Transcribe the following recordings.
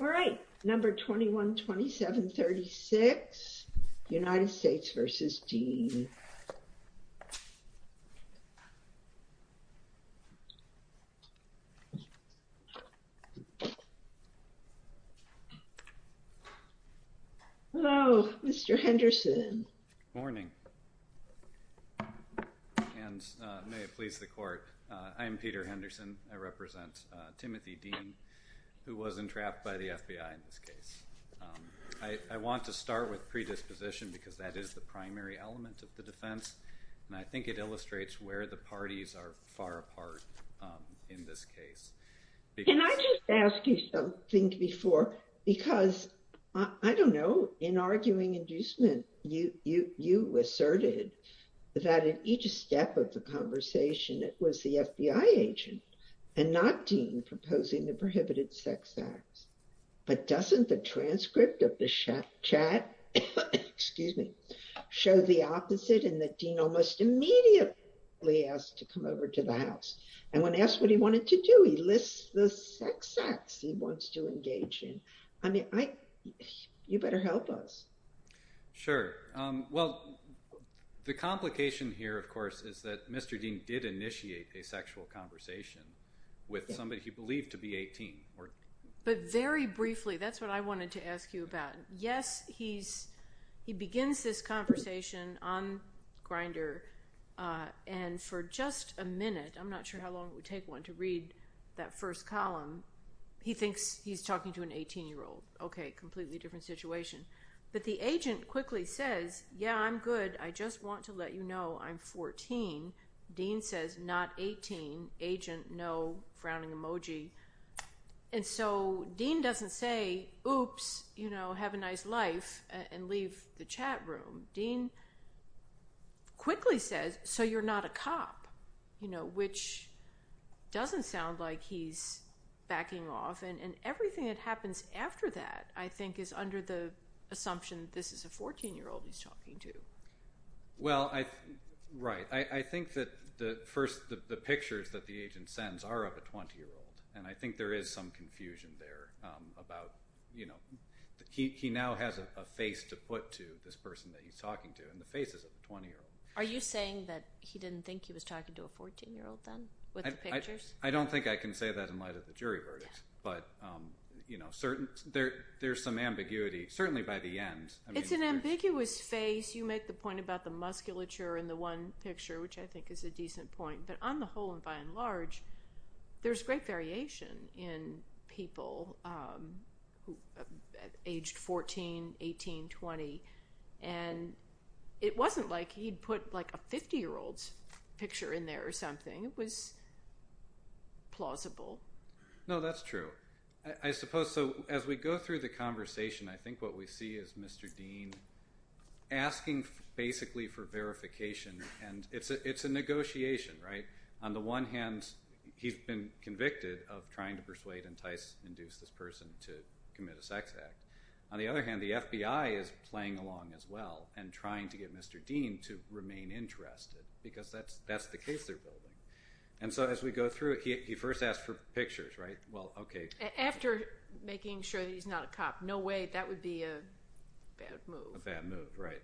All right, number 212736, United States v. Dean. Hello, Mr. Henderson. Good morning, and may it please the court. I am Peter Henderson. I represent Timothy Dean, who was entrapped by the FBI in this case. I want to start with predisposition because that is the primary element of the defense, and I think it illustrates where the parties are far apart in this case. Can I just ask you something before, because I don't know, in arguing inducement, you asserted that in each step of the conversation, it was the FBI agent and not Dean proposing the prohibited sex acts. But doesn't the transcript of the chat, excuse me, show the opposite and that Dean almost immediately asked to come over to the house? And when asked what he wanted to do, he lists the sex acts he wants to engage in. I mean, you better help us. Sure. Well, the complication here, of course, is that Mr. Dean did initiate a sexual conversation with somebody he believed to be 18. But very briefly, that's what I wanted to ask you about. Yes, he begins this conversation on Grindr, and for just a minute, I'm not sure how long it would take one to read that first column, he thinks he's talking to an 18-year-old. Okay, completely different situation. But the agent quickly says, yeah, I'm good. I just want to let you know I'm 14. Dean says, not 18. Agent, no, frowning emoji. And so Dean doesn't say, oops, have a nice life and leave the chat room. Dean quickly says, so you're not a cop, which doesn't sound like he's backing off. And everything that happens after that, I think, is under the assumption this is a 14-year-old he's talking to. Well, right. I think that the pictures that the agent sends are of a 20-year-old, and I think there is some confusion there about he now has a face to put to this person that he's talking to, and the face is of a 20-year-old. Are you saying that he didn't think he was talking to a 14-year-old then with the pictures? I don't think I can say that in light of the jury verdict, but there's some ambiguity, certainly by the end. It's an ambiguous face. You make the point about the musculature in the one picture, which I think is a decent point. But on the whole and by and large, there's great variation in people aged 14, 18, 20. And it wasn't like he'd put a 50-year-old's picture in there or something. It was plausible. No, that's true. I suppose so. As we go through the conversation, I think what we see is Mr. Dean asking basically for verification, and it's a negotiation, right? On the one hand, he's been convicted of trying to persuade, entice, induce this person to commit a sex act. On the other hand, the FBI is playing along as well and trying to get Mr. Dean to remain interested because that's the case they're building. And so as we go through it, he first asks for pictures, right? After making sure that he's not a cop. No way. That would be a bad move. A bad move, right.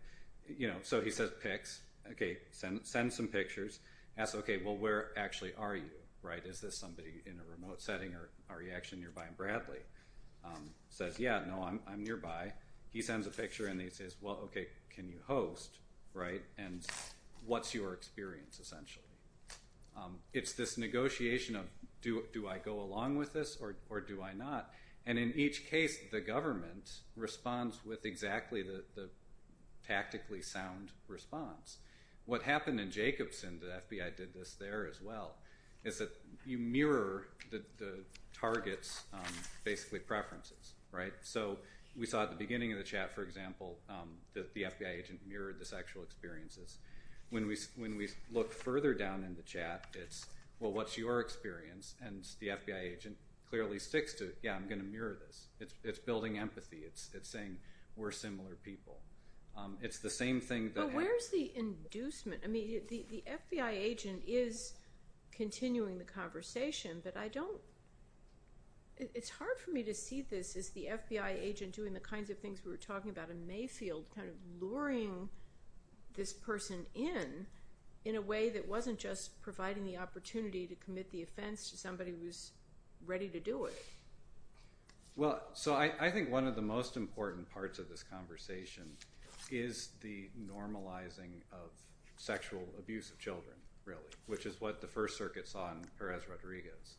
So he says, picks. Okay, send some pictures. Asks, okay, well, where actually are you? Is this somebody in a remote setting or are you actually nearby? And Bradley says, yeah, no, I'm nearby. He sends a picture and he says, well, okay, can you host? And what's your experience essentially? It's this negotiation of do I go along with this or do I not? And in each case, the government responds with exactly the tactically sound response. What happened in Jacobson, the FBI did this there as well, is that you mirror the target's basically preferences, right? So we saw at the beginning of the chat, for example, that the FBI agent mirrored the sexual experiences. When we look further down in the chat, it's, well, what's your experience? And the FBI agent clearly sticks to, yeah, I'm going to mirror this. It's building empathy. It's saying we're similar people. It's the same thing. But where's the inducement? I mean, the FBI agent is continuing the conversation, but I don't, it's hard for me to see this as the FBI agent doing the kinds of things we were talking about in Mayfield, kind of luring this person in, in a way that wasn't just providing the opportunity to commit the offense to somebody who's ready to do it. Well, so I think one of the most important parts of this conversation is the normalizing of sexual abuse of children, really, which is what the First Circuit saw in Perez Rodriguez,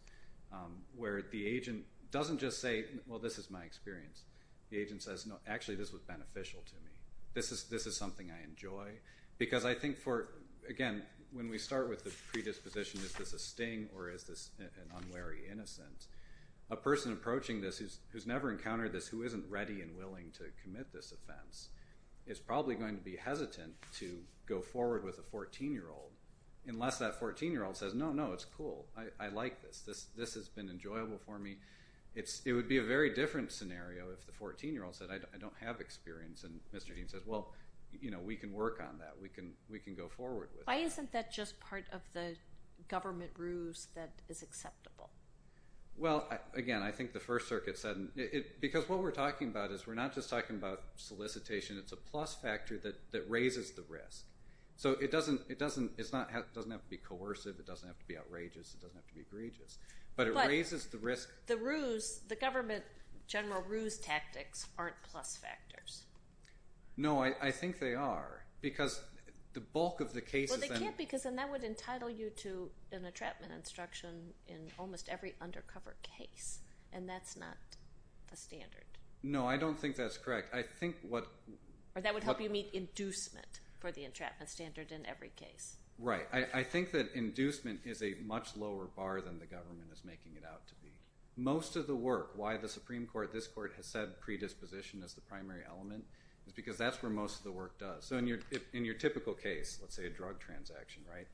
where the agent doesn't just say, well, this is my experience. The agent says, no, actually, this was beneficial to me. This is something I enjoy. Because I think for, again, when we start with the predisposition, is this a sting or is this an unwary innocence? A person approaching this who's never encountered this, who isn't ready and willing to commit this offense, is probably going to be hesitant to go forward with a 14-year-old, unless that 14-year-old says, no, no, it's cool. I like this. This has been enjoyable for me. It would be a very different scenario if the 14-year-old said, I don't have experience. And Mr. Dean says, well, you know, we can work on that. We can go forward with that. Why isn't that just part of the government ruse that is acceptable? Well, again, I think the First Circuit said – because what we're talking about is we're not just talking about solicitation. It's a plus factor that raises the risk. So it doesn't have to be coercive. It doesn't have to be outrageous. It doesn't have to be egregious. But it raises the risk. But the ruse, the government general ruse tactics aren't plus factors. No, I think they are because the bulk of the cases – Well, they can't because then that would entitle you to an entrapment instruction in almost every undercover case. And that's not the standard. No, I don't think that's correct. I think what – Or that would help you meet inducement for the entrapment standard in every case. Right. I think that inducement is a much lower bar than the government is making it out to be. Most of the work – why the Supreme Court, this court, has said predisposition is the primary element is because that's where most of the work does. So in your typical case, let's say a drug transaction, right,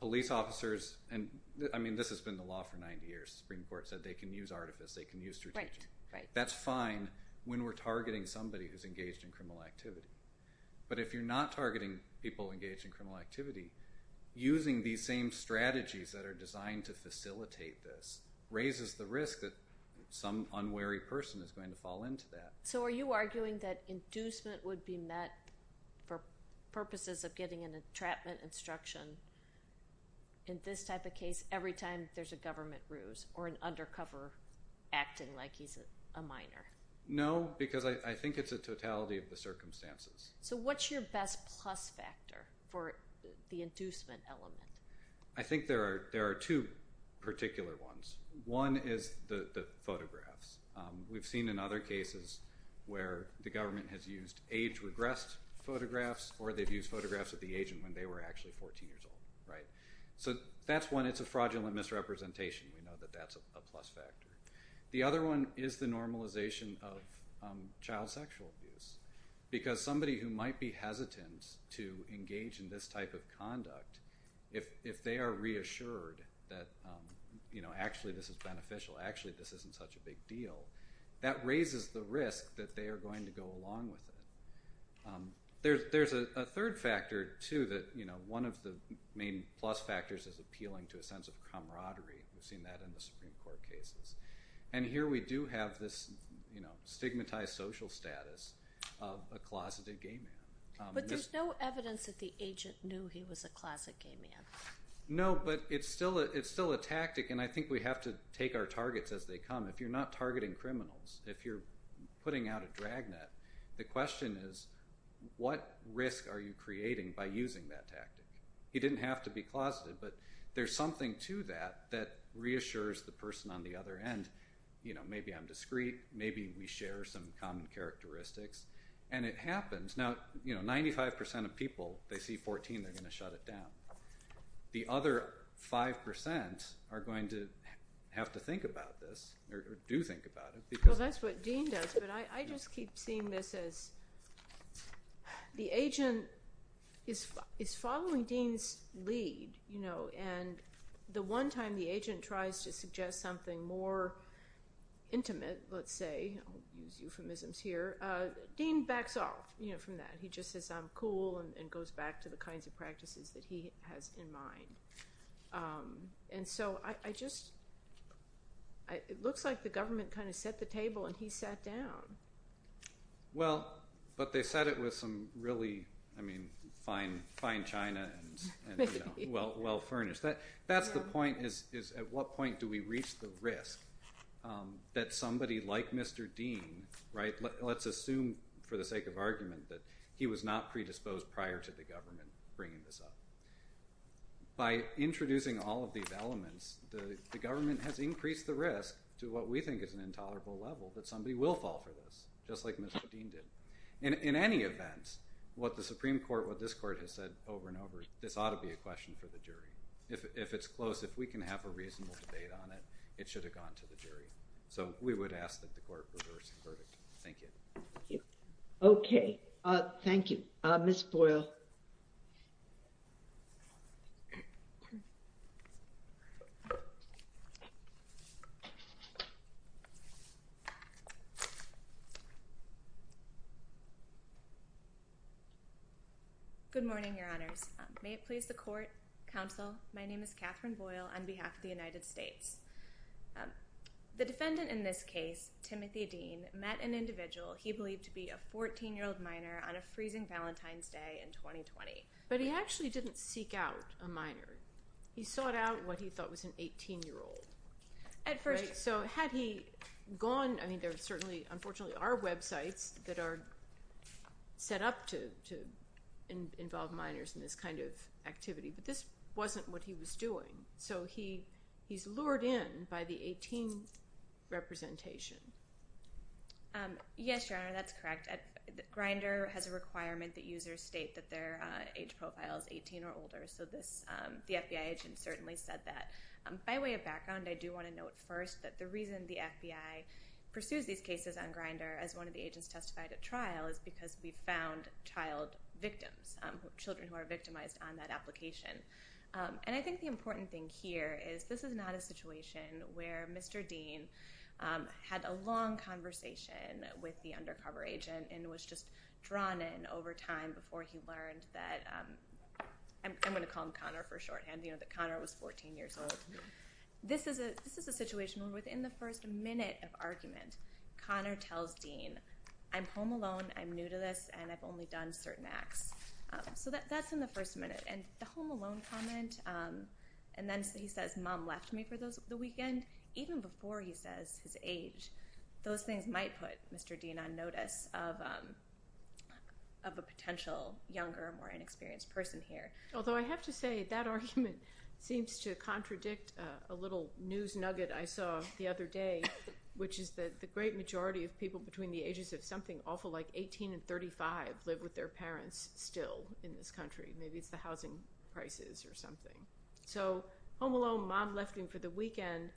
police officers – and, I mean, this has been the law for 90 years. The Supreme Court said they can use artifice. They can use strategies. That's fine when we're targeting somebody who's engaged in criminal activity. But if you're not targeting people engaged in criminal activity, using these same strategies that are designed to facilitate this raises the risk that some unwary person is going to fall into that. So are you arguing that inducement would be met for purposes of getting an entrapment instruction in this type of case every time there's a government ruse or an undercover acting like he's a minor? No, because I think it's a totality of the circumstances. So what's your best plus factor for the inducement element? I think there are two particular ones. One is the photographs. We've seen in other cases where the government has used age-regressed photographs or they've used photographs of the agent when they were actually 14 years old, right? So that's one. It's a fraudulent misrepresentation. We know that that's a plus factor. The other one is the normalization of child sexual abuse because somebody who might be hesitant to engage in this type of conduct, if they are reassured that actually this is beneficial, actually this isn't such a big deal, that raises the risk that they are going to go along with it. There's a third factor, too, that one of the main plus factors is appealing to a sense of camaraderie. We've seen that in the Supreme Court cases. And here we do have this stigmatized social status of a closeted gay man. But there's no evidence that the agent knew he was a closeted gay man. No, but it's still a tactic, and I think we have to take our targets as they come. If you're not targeting criminals, if you're putting out a dragnet, the question is what risk are you creating by using that tactic? He didn't have to be closeted, but there's something to that that reassures the person on the other end. Maybe I'm discreet. Maybe we share some common characteristics. And it happens. Now, 95% of people, they see 14, they're going to shut it down. The other 5% are going to have to think about this or do think about it. Well, that's what Dean does, but I just keep seeing this as the agent is following Dean's lead. And the one time the agent tries to suggest something more intimate, let's say, I'll use euphemisms here, Dean backs off from that. He just says, I'm cool and goes back to the kinds of practices that he has in mind. And so I just, it looks like the government kind of set the table and he sat down. Well, but they set it with some really, I mean, fine china and well furnished. That's the point is at what point do we reach the risk that somebody like Mr. Dean, right? Let's assume for the sake of argument that he was not predisposed prior to the government bringing this up. By introducing all of these elements, the government has increased the risk to what we think is an intolerable level. But somebody will fall for this, just like Mr. Dean did. And in any event, what the Supreme Court, what this court has said over and over, this ought to be a question for the jury. If it's close, if we can have a reasonable debate on it, it should have gone to the jury. So we would ask that the court reverse the verdict. Thank you. Okay. Thank you. Ms. Boyle. Good morning, Your Honors. May it please the court, counsel. My name is Catherine Boyle on behalf of the United States. The defendant in this case, Timothy Dean, met an individual he believed to be a 14-year-old minor on a freezing Valentine's Day in 2020. But he actually didn't seek out a minor. He sought out what he thought was an 18-year-old. At first. So had he gone, I mean, there are certainly, unfortunately, are websites that are set up to involve minors in this kind of activity. But this wasn't what he was doing. So he's lured in by the 18 representation. Yes, Your Honor, that's correct. Grindr has a requirement that users state that their age profile is 18 or older. So the FBI agent certainly said that. By way of background, I do want to note first that the reason the FBI pursues these cases on Grindr as one of the agents testified at trial is because we found child victims, children who are victimized on that application. And I think the important thing here is this is not a situation where Mr. Dean had a long conversation with the undercover agent and was just drawn in over time before he learned that, I'm going to call him Connor for shorthand, that Connor was 14 years old. This is a situation where within the first minute of argument, Connor tells Dean, I'm home alone, I'm new to this, and I've only done certain acts. So that's in the first minute. And the home alone comment, and then he says, mom left me for the weekend, even before he says his age, those things might put Mr. Dean on notice of a potential younger, more inexperienced person here. Although I have to say that argument seems to contradict a little news nugget I saw the other day, which is that the great majority of people between the ages of something awful like 18 and 35 live with their parents still in this country. Maybe it's the housing prices or something. So home alone, mom left me for the weekend,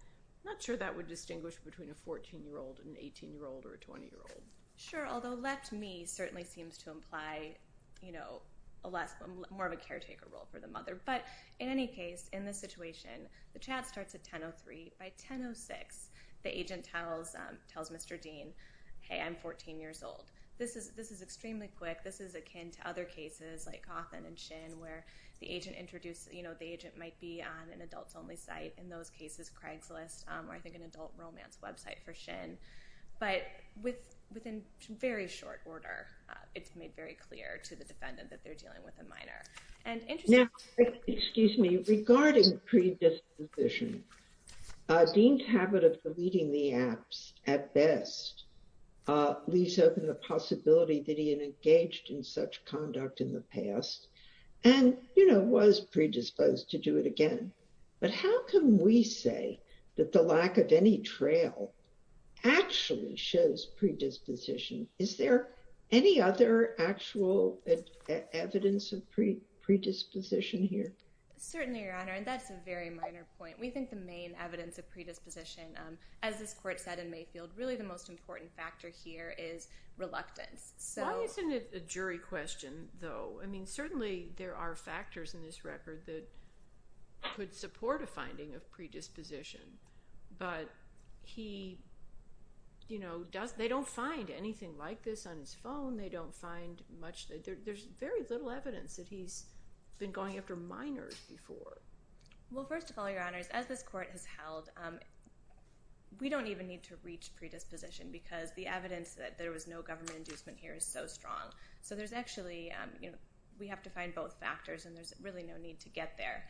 I'm not sure that would distinguish between a 14-year-old and an 18-year-old or a 20-year-old. Sure, although left me certainly seems to imply more of a caretaker role for the mother. But in any case, in this situation, the chat starts at 10.03. By 10.06, the agent tells Mr. Dean, hey, I'm 14 years old. This is extremely quick. This is akin to other cases like Cawthon and Shin, where the agent might be on an adults-only site. In those cases, Craigslist, or I think an adult romance website for Shin. But within very short order, it's made very clear to the defendant that they're dealing with a minor. Now, regarding predisposition, Dean's habit of deleting the apps at best leaves open the possibility that he had engaged in such conduct in the past and was predisposed to do it again. But how can we say that the lack of any trail actually shows predisposition? Is there any other actual evidence of predisposition here? Certainly, Your Honor, and that's a very minor point. We think the main evidence of predisposition, as this court said in Mayfield, really the most important factor here is reluctance. Why isn't it a jury question, though? I mean, certainly there are factors in this record that could support a finding of predisposition. But they don't find anything like this on his phone. They don't find much. There's very little evidence that he's been going after minors before. Well, first of all, Your Honors, as this court has held, we don't even need to reach predisposition because the evidence that there was no government inducement here is so strong. So there's actually – we have to find both factors, and there's really no need to get there.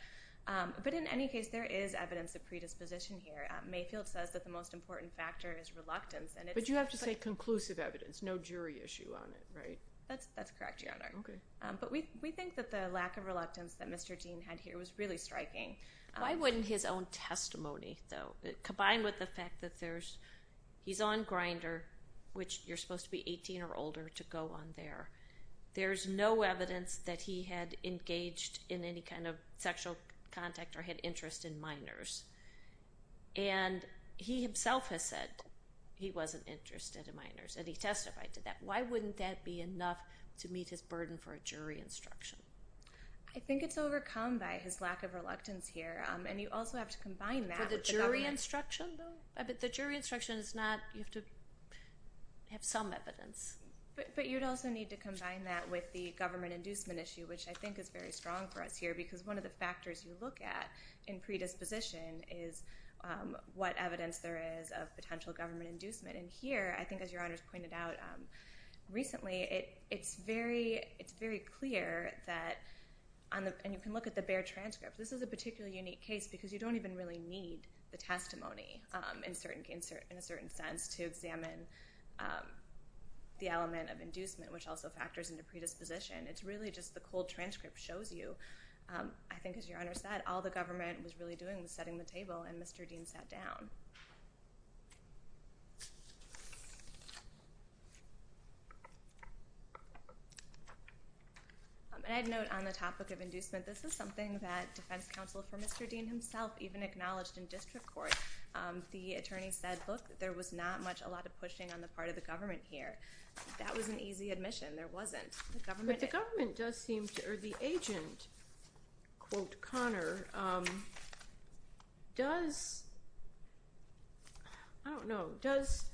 But in any case, there is evidence of predisposition here. Mayfield says that the most important factor is reluctance. But you have to say conclusive evidence, no jury issue on it, right? That's correct, Your Honor. Okay. But we think that the lack of reluctance that Mr. Dean had here was really striking. Why wouldn't his own testimony, though, combine with the fact that there's – he's on Grindr, which you're supposed to be 18 or older to go on there. There's no evidence that he had engaged in any kind of sexual contact or had interest in minors. And he himself has said he wasn't interested in minors, and he testified to that. Why wouldn't that be enough to meet his burden for a jury instruction? I think it's overcome by his lack of reluctance here, and you also have to combine that with the government. For the jury instruction, though? The jury instruction is not – you have to have some evidence. But you'd also need to combine that with the government inducement issue, which I think is very strong for us here because one of the factors you look at in predisposition is what evidence there is of potential government inducement. And here, I think as Your Honor's pointed out recently, it's very clear that – and you can look at the Baer transcript. This is a particularly unique case because you don't even really need the testimony in a certain sense to examine the element of inducement, which also factors into predisposition. It's really just the cold transcript shows you. I think as Your Honor said, all the government was really doing was setting the table, and Mr. Dean sat down. And I'd note on the topic of inducement, this is something that defense counsel for Mr. Dean himself even acknowledged in district court. The attorney said, look, there was not much, a lot of pushing on the part of the government here. That was an easy admission. There wasn't. But the government does seem to – or the agent, quote Connor, does – I don't know. Does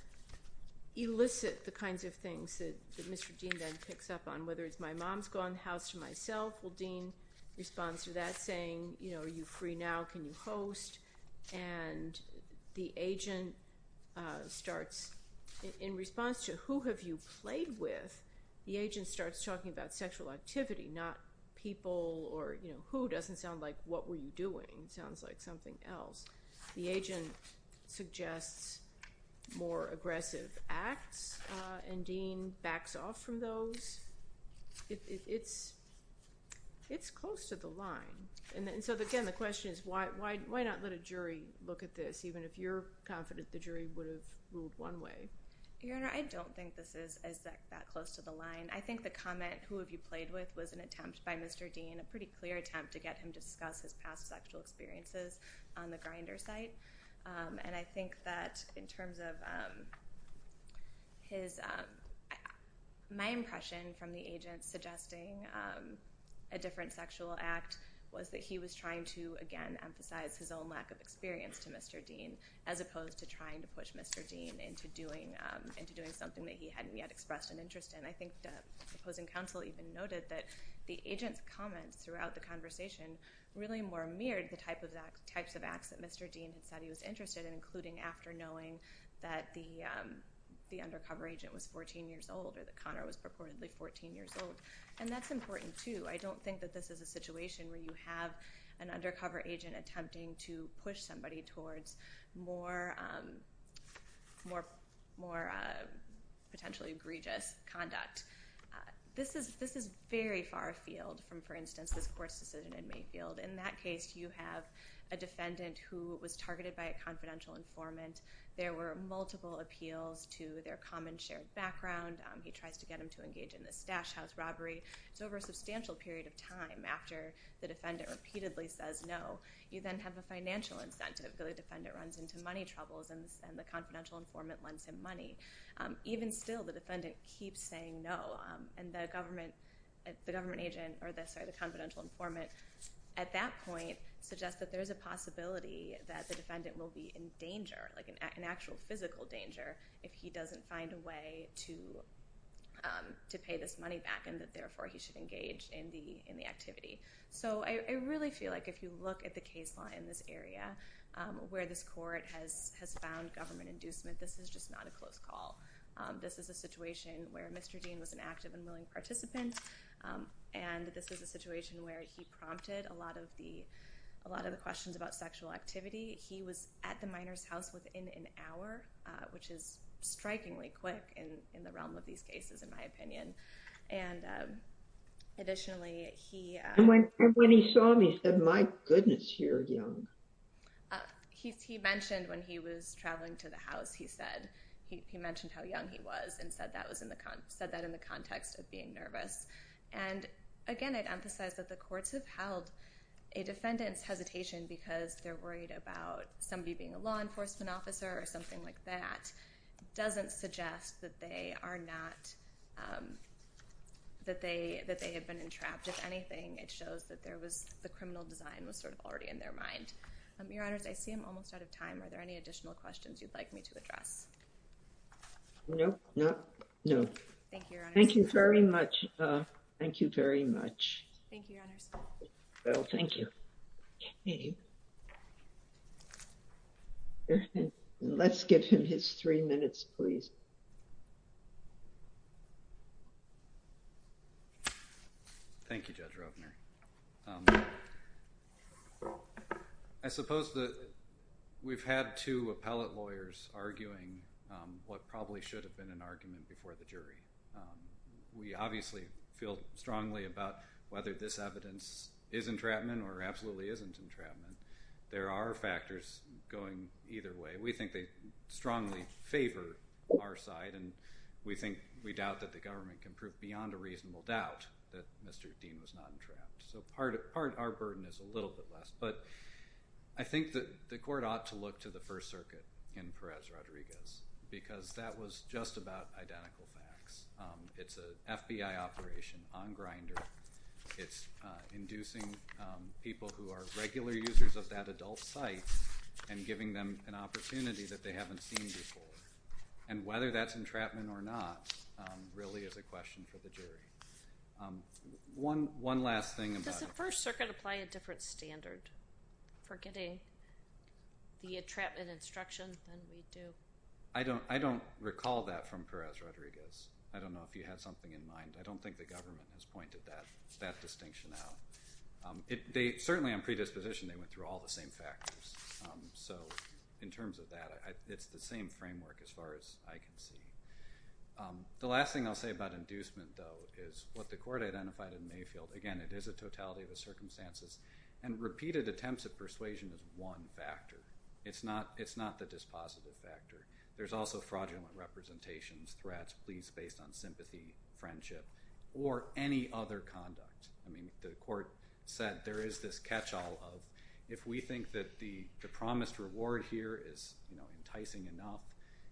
elicit the kinds of things that Mr. Dean then picks up on, whether it's my mom's gone, the house to myself. Well, Dean responds to that saying, you know, are you free now? Can you host? And the agent starts – in response to who have you played with, the agent starts talking about sexual activity, not people or, you know, who. It doesn't sound like what were you doing. It sounds like something else. The agent suggests more aggressive acts, and Dean backs off from those. It's close to the line. And so, again, the question is why not let a jury look at this, even if you're confident the jury would have ruled one way? Your Honor, I don't think this is that close to the line. I think the comment, who have you played with, was an attempt by Mr. Dean, a pretty clear attempt to get him to discuss his past sexual experiences on the Grindr site. And I think that in terms of his – my impression from the agent suggesting a different sexual act was that he was trying to, again, emphasize his own lack of experience to Mr. Dean, as opposed to trying to push Mr. Dean into doing something that he hadn't yet expressed an interest in. And I think the opposing counsel even noted that the agent's comments throughout the conversation really more mirrored the types of acts that Mr. Dean had said he was interested in, including after knowing that the undercover agent was 14 years old or that Connor was purportedly 14 years old. And that's important, too. I don't think that this is a situation where you have an undercover agent attempting to push somebody towards more potentially egregious conduct. This is very far afield from, for instance, this Coarse decision in Mayfield. In that case, you have a defendant who was targeted by a confidential informant. There were multiple appeals to their common shared background. He tries to get them to engage in this stash house robbery. It's over a substantial period of time after the defendant repeatedly says no. You then have a financial incentive. The defendant runs into money troubles, and the confidential informant lends him money. Even still, the defendant keeps saying no, and the confidential informant at that point suggests that there's a possibility that the defendant will be in danger, like an actual physical danger, if he doesn't find a way to pay this money back and that, therefore, he should engage in the activity. So I really feel like if you look at the case law in this area where this court has found government inducement, this is just not a close call. This is a situation where Mr. Dean was an active and willing participant, and this is a situation where he prompted a lot of the questions about sexual activity. He was at the minor's house within an hour, which is strikingly quick in the realm of these cases, in my opinion. And additionally, he- And when he saw me, he said, my goodness, you're young. He mentioned when he was traveling to the house, he mentioned how young he was and said that in the context of being nervous. And again, I'd emphasize that the courts have held a defendant's hesitation because they're worried about somebody being a law enforcement officer or something like that doesn't suggest that they are not- that they have been entrapped. If anything, it shows that there was- the criminal design was sort of already in their mind. Your Honors, I see I'm almost out of time. Are there any additional questions you'd like me to address? Thank you, Your Honors. Thank you very much. Thank you, Your Honors. Well, thank you. Let's give him his three minutes, please. Thank you, Judge Roebner. I suppose that we've had two appellate lawyers arguing what probably should have been an argument before the jury. We obviously feel strongly about whether this evidence is entrapment or absolutely isn't entrapment. There are factors going either way. We think they strongly favor our side, and we think- we doubt that the government can prove beyond a reasonable doubt that Mr. Dean was not entrapped. So part of our burden is a little bit less. But I think that the court ought to look to the First Circuit in Perez-Rodriguez because that was just about identical facts. It's an FBI operation on Grindr. It's inducing people who are regular users of that adult site and giving them an opportunity that they haven't seen before. And whether that's entrapment or not really is a question for the jury. One last thing about- Does the First Circuit apply a different standard for getting the entrapment instruction than we do? I don't recall that from Perez-Rodriguez. I don't know if you have something in mind. I don't think the government has pointed that distinction out. Certainly on predisposition, they went through all the same factors. So in terms of that, it's the same framework as far as I can see. The last thing I'll say about inducement, though, is what the court identified in Mayfield. Again, it is a totality of the circumstances. And repeated attempts at persuasion is one factor. It's not the dispositive factor. There's also fraudulent representations, threats, pleas based on sympathy, friendship, or any other conduct. I mean, the court said there is this catch-all of if we think that the promised reward here is enticing enough,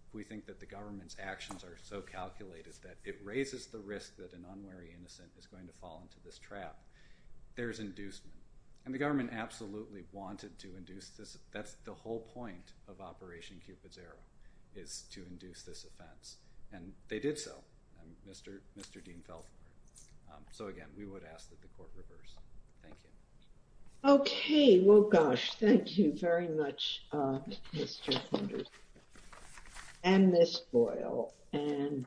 if we think that the government's actions are so calculated that it raises the risk that an unwary innocent is going to fall into this trap, there's inducement. And the government absolutely wanted to induce this. That's the whole point of Operation Cupid's Arrow, is to induce this offense. And they did so. And Mr. Dean fell for it. So, again, we would ask that the court reverse. Thank you. Okay. Well, gosh, thank you very much, Mr. Hunter and Ms. Boyle. And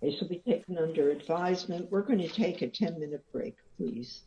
this will be taken under advisement. We're going to take a 10-minute break, please.